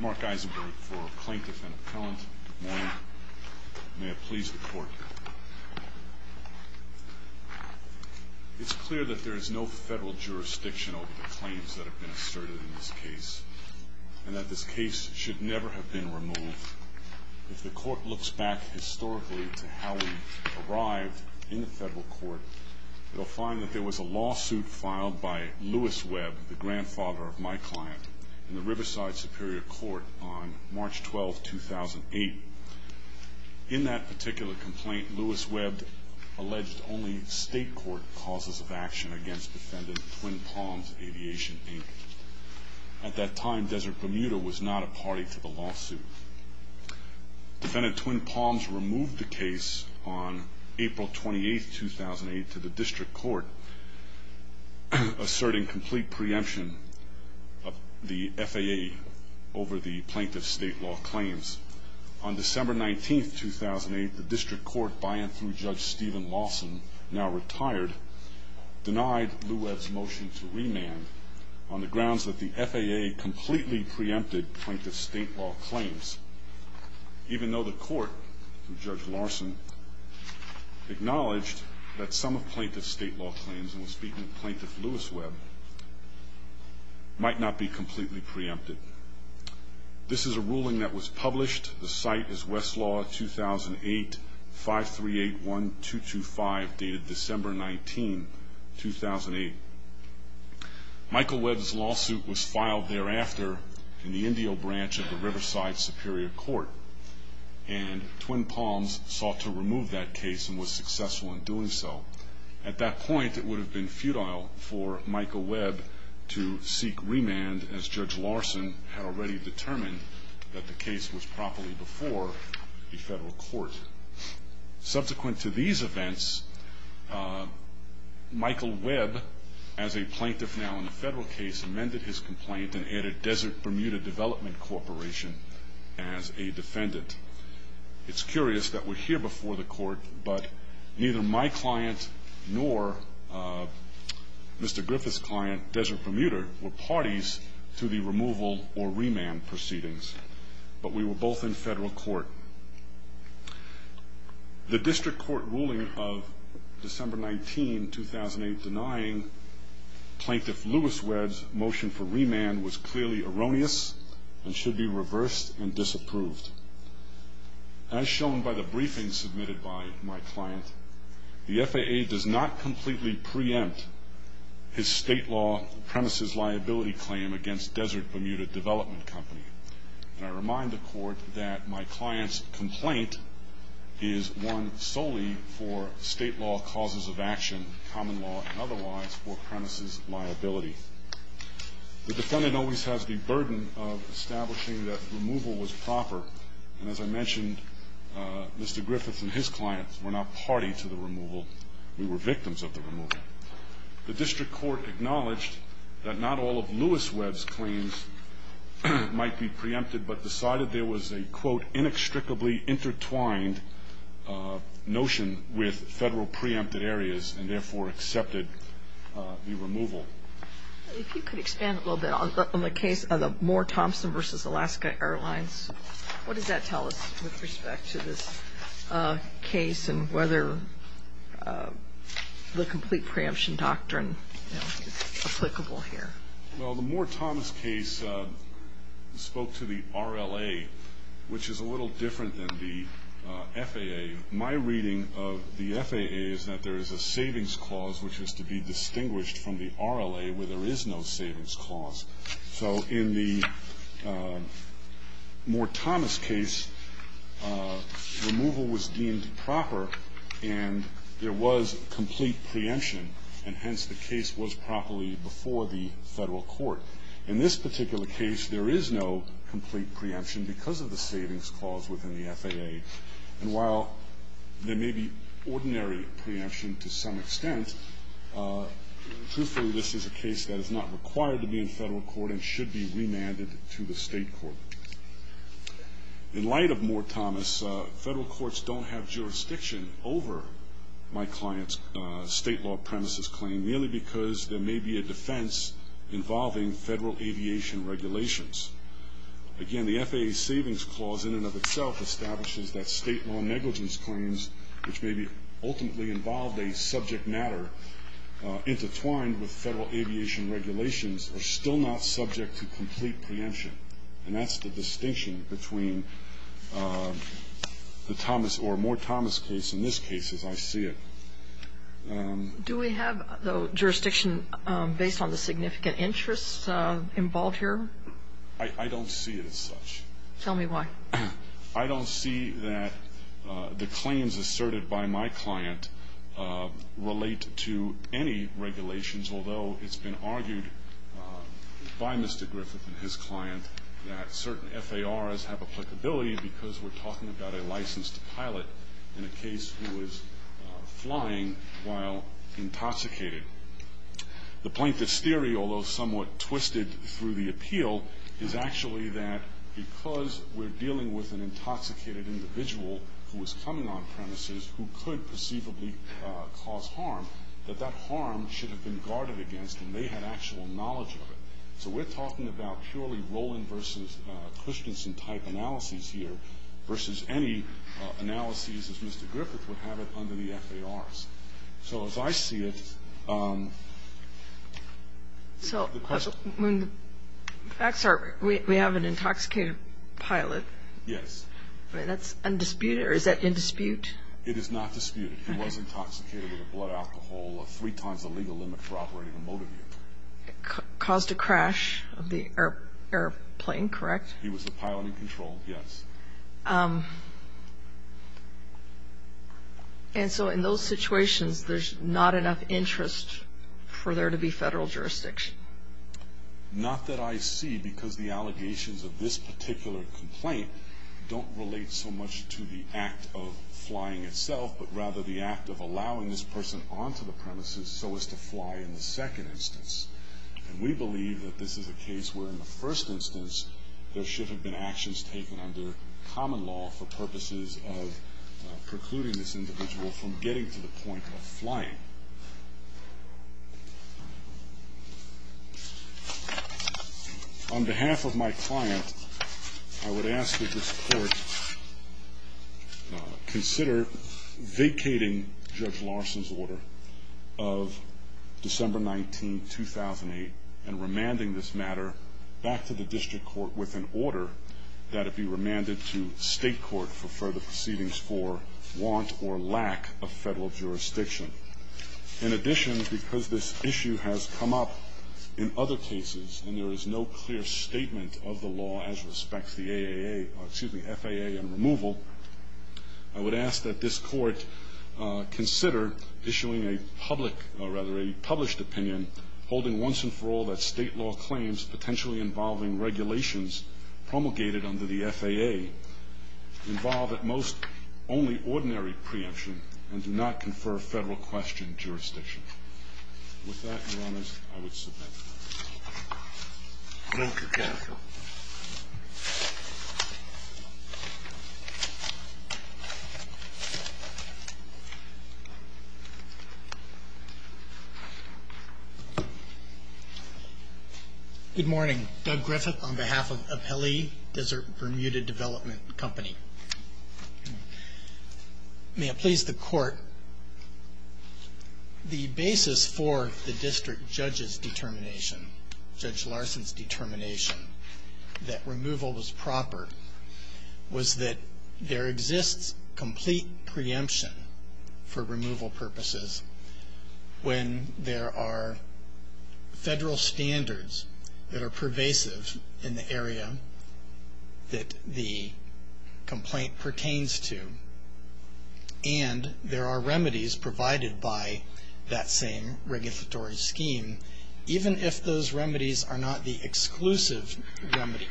Mark Isenberg for plaintiff and appellant. Good morning. May it please the court. It's clear that there is no federal jurisdiction over the claims that have been asserted in this case and that this case should never have been removed. If the court looks back historically to how we arrived in the federal court, you'll find that there was a lawsuit filed by Lewis Webb, the grandfather of my client, in the Riverside Superior Court on March 12, 2008. In that particular complaint, Lewis Webb alleged only state court causes of action against defendant Twin Palms Aviation, Inc. At that time, Desert Bermuda was not a party to the lawsuit. Defendant Twin Palms removed the case on April 28, 2008, to the court, asserting complete preemption of the FAA over the plaintiff's state law claims. On December 19, 2008, the district court, by and through Judge Stephen Lawson, now retired, denied Lewis Webb's motion to remand on the grounds that the FAA completely preempted plaintiff's state law claims, even though the court, through Judge Lawson, acknowledged that some of plaintiff's state law claims, and we're speaking of plaintiff Lewis Webb, might not be completely preempted. This is a ruling that was published. The site is Westlaw 2008-538-1225, dated December 19, 2008. Michael Webb's lawsuit was filed thereafter in the Indio branch of the Riverside Superior Court, and Twin Palms sought to At that point, it would have been futile for Michael Webb to seek remand, as Judge Lawson had already determined that the case was properly before the federal court. Subsequent to these events, Michael Webb, as a plaintiff now in the federal case, amended his complaint and added Desert Bermuda Development Corporation as a defendant. It's curious that we're client nor Mr. Griffith's client, Desert Bermuda, were parties to the removal or remand proceedings, but we were both in federal court. The district court ruling of December 19, 2008, denying plaintiff Lewis Webb's motion for remand was clearly erroneous and should be reversed and disapproved. As shown by the briefing submitted by my client, the FAA does not completely preempt his state law premises liability claim against Desert Bermuda Development Company. And I remind the court that my client's complaint is one solely for state law causes of action, common law and otherwise, for premises liability. The defendant always has the burden of establishing that removal was proper. And as I mentioned, Mr. Griffith and his clients were not party to the removal. We were victims of the removal. The district court acknowledged that not all of Lewis Webb's claims might be preempted, but decided there was a, quote, inextricably intertwined notion with federal preempted areas and therefore accepted the removal. If you could expand a little bit on the case of the Moore-Thompson v. Alaska Airlines. What does that tell us with respect to this case and whether the complete preemption doctrine is applicable here? Well, the Moore-Thompson case spoke to the RLA, which is a little different than the FAA. My reading of the FAA is that there is a savings clause which is to be distinguished from the RLA where there is no savings clause. So in the Moore-Thomas case, removal was deemed proper and there was complete preemption, and hence the case was properly before the federal court. In this particular case, there is no complete preemption because of the savings clause within the FAA. And while there may be ordinary preemption to some extent, truthfully this is a case that is not required to be in federal court and should be remanded to the state court. In light of Moore-Thomas, federal courts don't have jurisdiction over my client's state law premises claim merely because there may be a defense involving federal aviation regulations. Again, the FAA's savings clause in and of itself establishes that state law negligence claims which may be ultimately involved a subject matter intertwined with federal aviation regulations are still not subject to complete preemption. And that's the distinction between the Thomas or Moore-Thomas case in this case, as I see it. Do we have jurisdiction based on the significant interests involved here? I don't see it as such. Tell me why. I don't see that the claims asserted by my client relate to any regulations, although it's been argued by Mr. Griffith and his client that certain FARs have applicability about a licensed pilot in a case who was flying while intoxicated. The plaintiff's theory, although somewhat twisted through the appeal, is actually that because we're dealing with an intoxicated individual who was coming on premises who could perceivably cause harm, that that harm should have been guarded against and they had actual knowledge of it. So we're talking about purely Rowland versus Christensen type analyses here versus any analyses as Mr. Griffith would have it under the FARs. So as I see it, the question – So when the facts are we have an intoxicated pilot. Yes. That's undisputed or is that in dispute? It is not disputed. He was intoxicated with a blood alcohol of three times the legal limit for operating a motor vehicle. Caused a crash of the airplane, correct? He was the pilot in control, yes. And so in those situations, there's not enough interest for there to be federal jurisdiction? Not that I see because the allegations of this particular complaint don't relate so much to the act of flying itself, but rather the act of allowing this person onto the premises so as to fly in the second instance. And we believe that this is a case where in the first instance there should have been actions taken under common law for purposes of precluding this individual from getting to the point of flying. On behalf of my client, I would ask that this court consider vacating Judge Larson's order of December 19, 2008 and remanding this matter back to the district court with an order that it be remanded to state court for further proceedings for want or lack of federal jurisdiction. In addition, because this issue has come up in other cases and there is no clear statement of the law as respects the FAA and removal, I would ask that this court consider issuing a public or rather a published opinion holding once and for all that state law claims potentially involving regulations promulgated under the FAA involve at most only ordinary preemption and do not confer federal question jurisdiction. With that, Your Honors, I would submit. Thank you, counsel. Good morning. Doug Griffith on behalf of Apelli Desert Bermuda Development Company. May it please the court, the basis for the district judge's determination, Judge Larson's determination that removal was proper was that there exists complete preemption for removal purposes when there are federal standards that are pervasive in the area that the complaint pertains to and there are remedies provided by that same regulatory scheme, even if those remedies are not the exclusive remedy.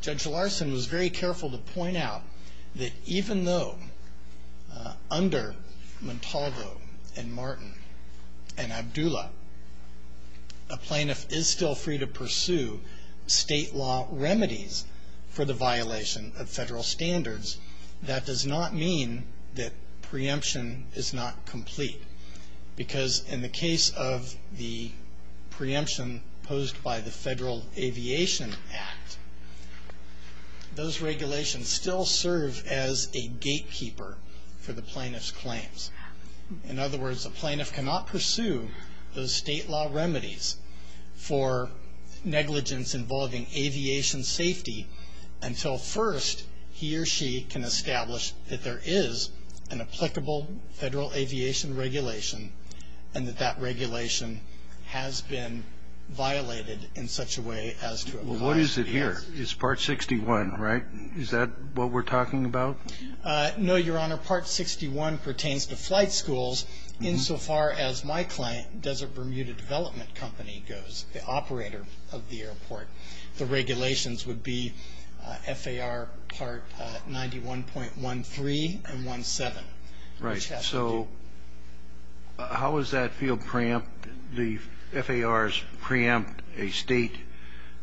Judge Larson was very careful to point out that even though under Montalvo and Martin and Abdullah, a plaintiff is still free to pursue state law remedies for the violation of federal standards, that does not mean that preemption is not complete because in the case of the preemption posed by the Federal Aviation Act, those regulations still serve as a gatekeeper for the plaintiff's claims. In other words, a plaintiff cannot pursue those state law remedies for negligence involving aviation safety until first he or she can establish that there is an applicable federal aviation regulation and that that regulation has been violated in such a way as to apply. Well, what is it here? It's Part 61, right? Is that what we're talking about? No, Your Honor. Part 61 pertains to flight schools insofar as my client, Desert Bermuda Development Company, goes, the operator of the airport. The regulations would be FAR Part 91.13 and 17. Right. So how is that field preempt? The FARs preempt a state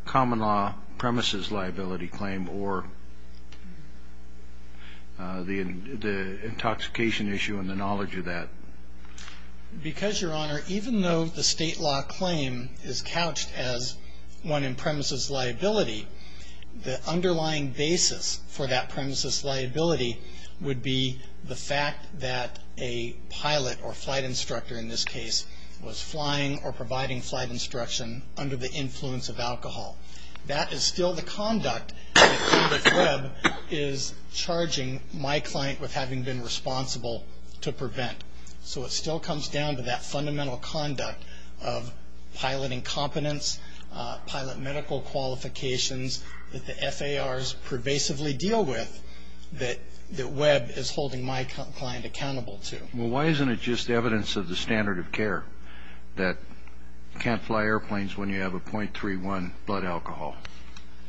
common law premises liability claim or the intoxication issue and the knowledge of that. Because, Your Honor, even though the state law claim is couched as one in premises liability, the underlying basis for that premises liability would be the fact that a pilot or flight instructor, in this case, was flying or providing flight instruction under the influence of alcohol. That is still the conduct that the CREB is charging my client with having been responsible to prevent. So it still comes down to that fundamental conduct of pilot incompetence, pilot medical qualifications that the FARs pervasively deal with that Webb is holding my client accountable to. Well, why isn't it just evidence of the standard of care that you can't fly airplanes when you have a .31 blood alcohol?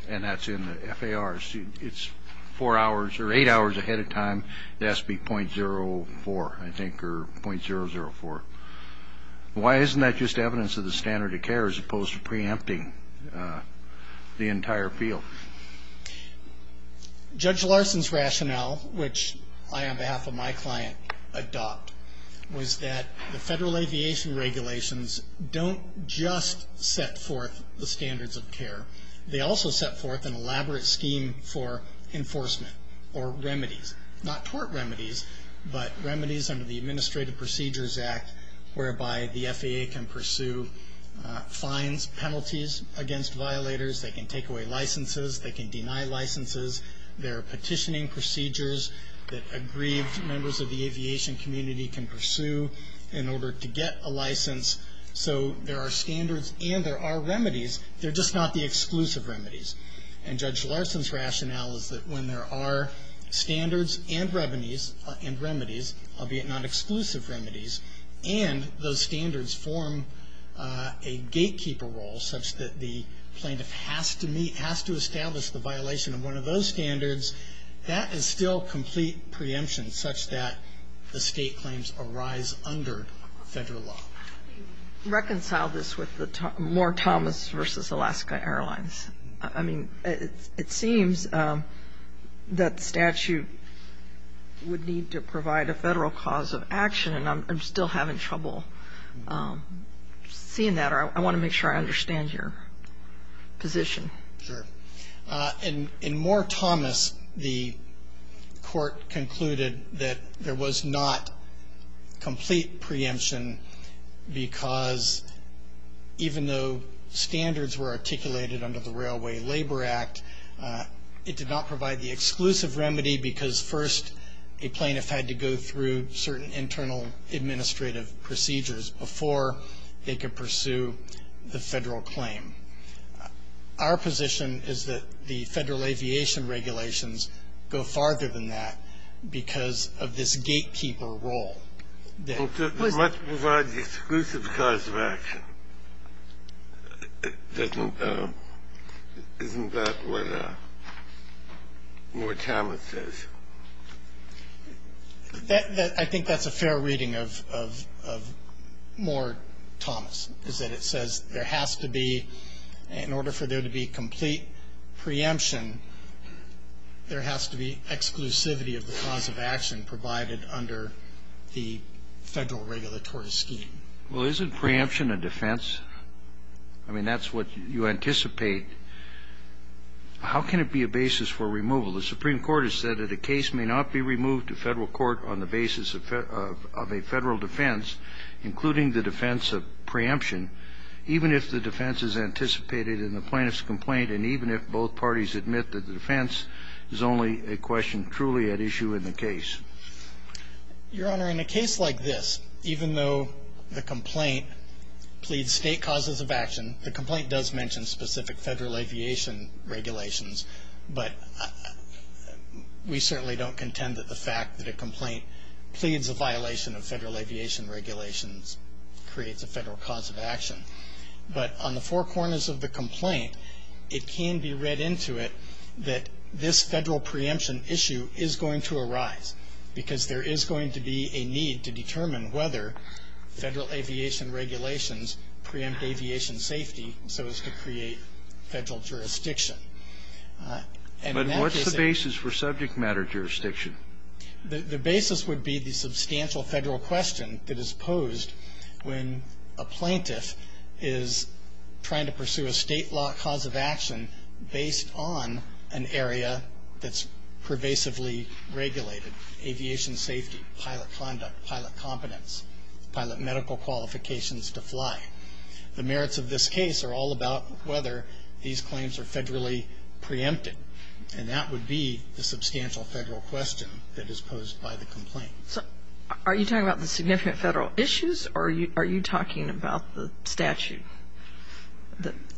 And that's in the FARs. It's four hours or eight hours ahead of time. It has to be .04, I think, or .004. Why isn't that just evidence of the standard of care as opposed to preempting the entire field? Judge Larson's rationale, which I, on behalf of my client, adopt, was that the Federal Aviation Regulations don't just set forth the standards of care. They also set forth an elaborate scheme for enforcement or remedies. Not tort remedies, but remedies under the Administrative Procedures Act whereby the FAA can pursue fines, penalties against violators. They can take away licenses. They can deny licenses. There are petitioning procedures that aggrieved members of the aviation community can pursue in order to get a license. So there are standards and there are remedies. They're just not the exclusive remedies. And Judge Larson's rationale is that when there are standards and remedies, albeit not exclusive remedies, and those standards form a gatekeeper role such that the plaintiff has to meet, has to establish the violation of one of those standards, that is still complete preemption such that the State claims arise under Federal law. Reconcile this with the Moore-Thomas v. Alaska Airlines. I mean, it seems that statute would need to provide a Federal cause of action, and I'm still having trouble seeing that. I want to make sure I understand your position. Sure. In Moore-Thomas, the court concluded that there was not complete preemption because even though standards were articulated under the Railway Labor Act, it did not provide the exclusive remedy because, first, a plaintiff had to go through certain internal administrative procedures before they could pursue the Federal claim. Our position is that the Federal aviation regulations go farther than that because of this gatekeeper role. It must provide the exclusive cause of action. Isn't that what Moore-Thomas says? I think that's a fair reading of Moore-Thomas, is that it says there has to be, in order for there to be complete preemption, there has to be exclusivity of the cause of action provided under the Federal regulatory scheme. Well, isn't preemption a defense? I mean, that's what you anticipate. How can it be a basis for removal? The Supreme Court has said that a case may not be removed to Federal court on the basis of a Federal defense, including the defense of preemption, even if the defense is anticipated in the plaintiff's complaint and even if both parties admit that the defense is only a question truly at issue in the case. Your Honor, in a case like this, even though the complaint pleads State causes of action, the complaint does mention specific Federal aviation regulations, but we certainly don't contend that the fact that a complaint pleads a violation of Federal aviation regulations creates a Federal cause of action. But on the four corners of the complaint, it can be read into it that this Federal preemption issue is going to arise because there is going to be a need to determine whether Federal aviation regulations preempt aviation safety so as to create Federal jurisdiction. But what's the basis for subject matter jurisdiction? The basis would be the substantial Federal question that is posed when a plaintiff is trying to pursue a State law cause of action based on an area that's pervasively regulated, aviation safety, pilot conduct, pilot competence, pilot medical qualifications to fly. The merits of this case are all about whether these claims are Federally preempted, and that would be the substantial Federal question that is posed by the complaint. So are you talking about the significant Federal issues or are you talking about the statute?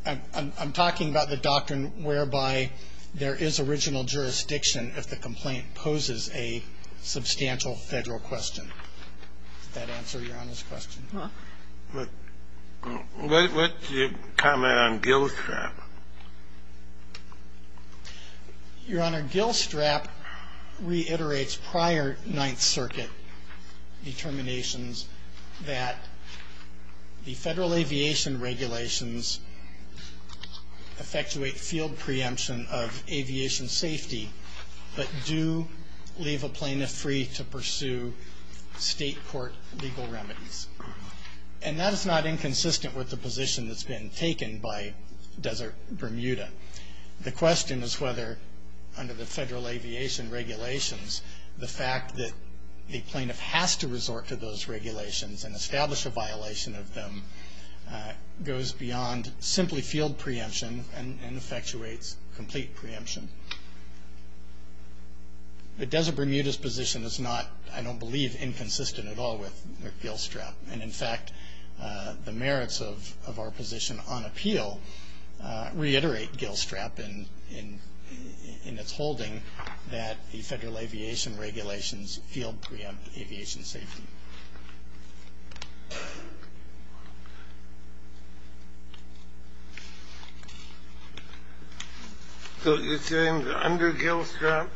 I'm talking about the doctrine whereby there is original jurisdiction if the complaint poses a substantial Federal question. Does that answer Your Honor's question? Well. What's your comment on Gill Strap? Your Honor, Gill Strap reiterates prior Ninth Circuit determinations that the Federal aviation regulations effectuate field preemption of aviation safety but do leave a plaintiff free to pursue State court legal remedies. And that is not inconsistent with the position that's been taken by Desert Bermuda. The question is whether under the Federal aviation regulations the fact that a plaintiff has to resort to those regulations and establish a violation of them goes beyond simply field preemption and effectuates complete preemption. The Desert Bermuda's position is not, I don't believe, inconsistent at all with Gill Strap. And in fact, the merits of our position on appeal reiterate Gill Strap in its holding that the Federal aviation regulations field preemption of aviation safety. So you're saying that under Gill Strap,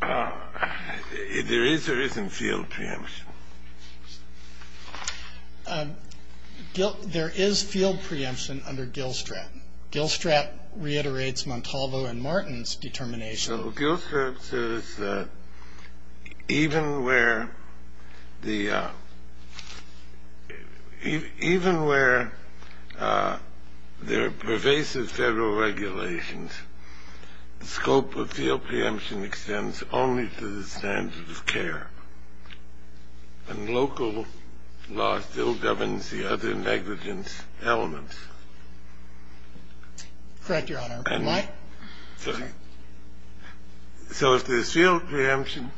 there is or isn't field preemption? There is field preemption under Gill Strap. Gill Strap reiterates Montalvo and Martin's determination. So Gill Strap says that even where there are pervasive Federal regulations, the scope of field preemption extends only to the standards of care. And local law still governs the other negligence elements. Correct, Your Honor. So if there's field preemption,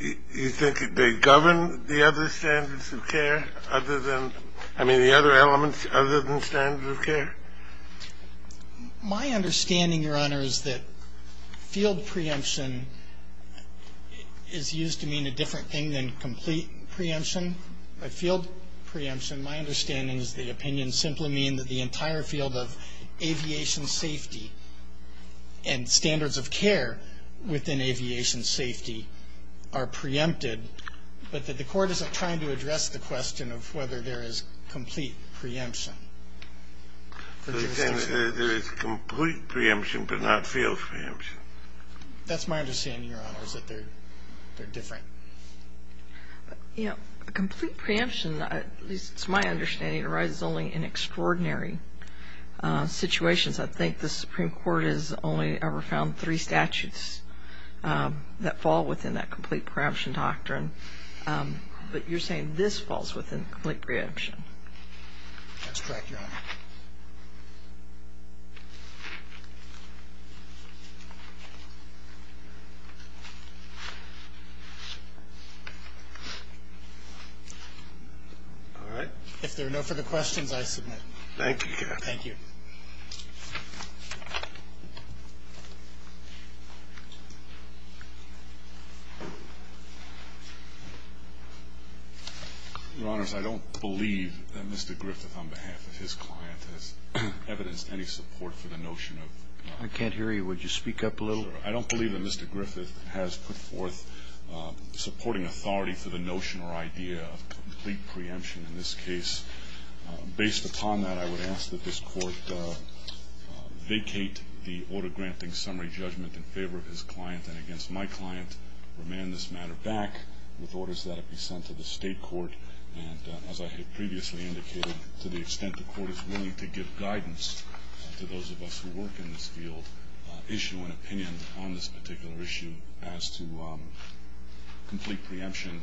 you think it may govern the other standards of care other than, I mean, the other elements other than standards of care? My understanding, Your Honor, is that field preemption is used to mean a different thing than complete preemption. By field preemption, my understanding is the opinion simply means that the entire field of aviation safety and standards of care within aviation safety are preempted, but that the Court isn't trying to address the question of whether there is complete preemption. So you're saying there is complete preemption but not field preemption? That's my understanding, Your Honor, is that they're different. Complete preemption, at least it's my understanding, arises only in extraordinary situations. I think the Supreme Court has only ever found three statutes that fall within that complete preemption doctrine. But you're saying this falls within complete preemption? That's correct, Your Honor. All right. If there are no further questions, I submit. Thank you, Your Honor. Thank you. Your Honors, I don't believe that Mr. Griffith, on behalf of his client, has evidenced any support for the notion of. I can't hear you. Would you speak up a little? I don't believe that Mr. Griffith has put forth supporting authority for the notion or idea of complete preemption in this case. Based upon that, I would ask that this Court vacate the order granting summary judgment in favor of his client and against my client, remand this matter back with orders that it be sent to the State Court. And as I had previously indicated, to the extent the Court is willing to give guidance to those of us who work in this field, issue an opinion on this particular issue as to complete preemption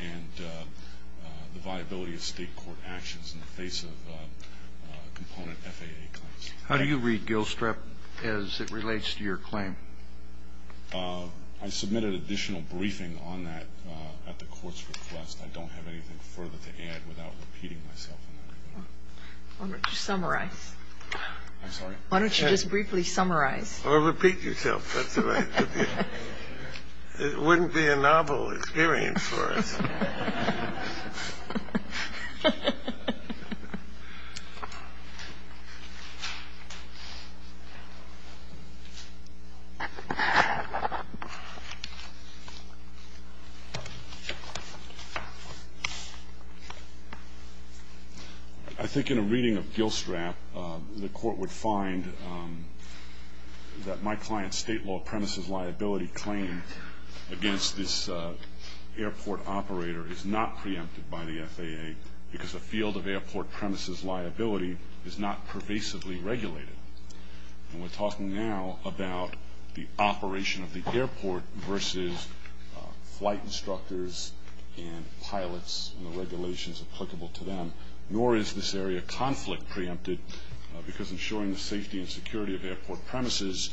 and the viability of State court actions in the face of component FAA claims. Thank you. How do you read Gilstrap as it relates to your claim? I submitted additional briefing on that at the Court's request. I don't have anything further to add without repeating myself on that. Why don't you summarize? I'm sorry. Why don't you just briefly summarize? Or repeat yourself. That's all right. It wouldn't be a novel experience for us. I think in a reading of Gilstrap, the Court would find that my client's State law apprentice's liability claim against this airport operator is that the airport operator is not preempted by the FAA because the field of airport premises liability is not pervasively regulated. And we're talking now about the operation of the airport versus flight instructors and pilots and the regulations applicable to them. Nor is this area of conflict preempted because ensuring the safety and security of airport premises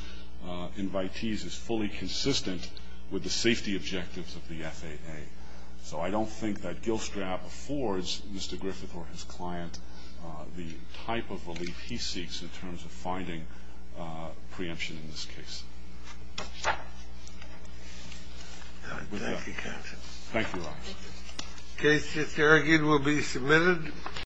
invitees is fully consistent with the safety objectives of the FAA. So I don't think that Gilstrap affords Mr. Griffith or his client the type of relief he seeks in terms of finding preemption in this case. Thank you, counsel. Thank you, Officer. The case is here again will be submitted.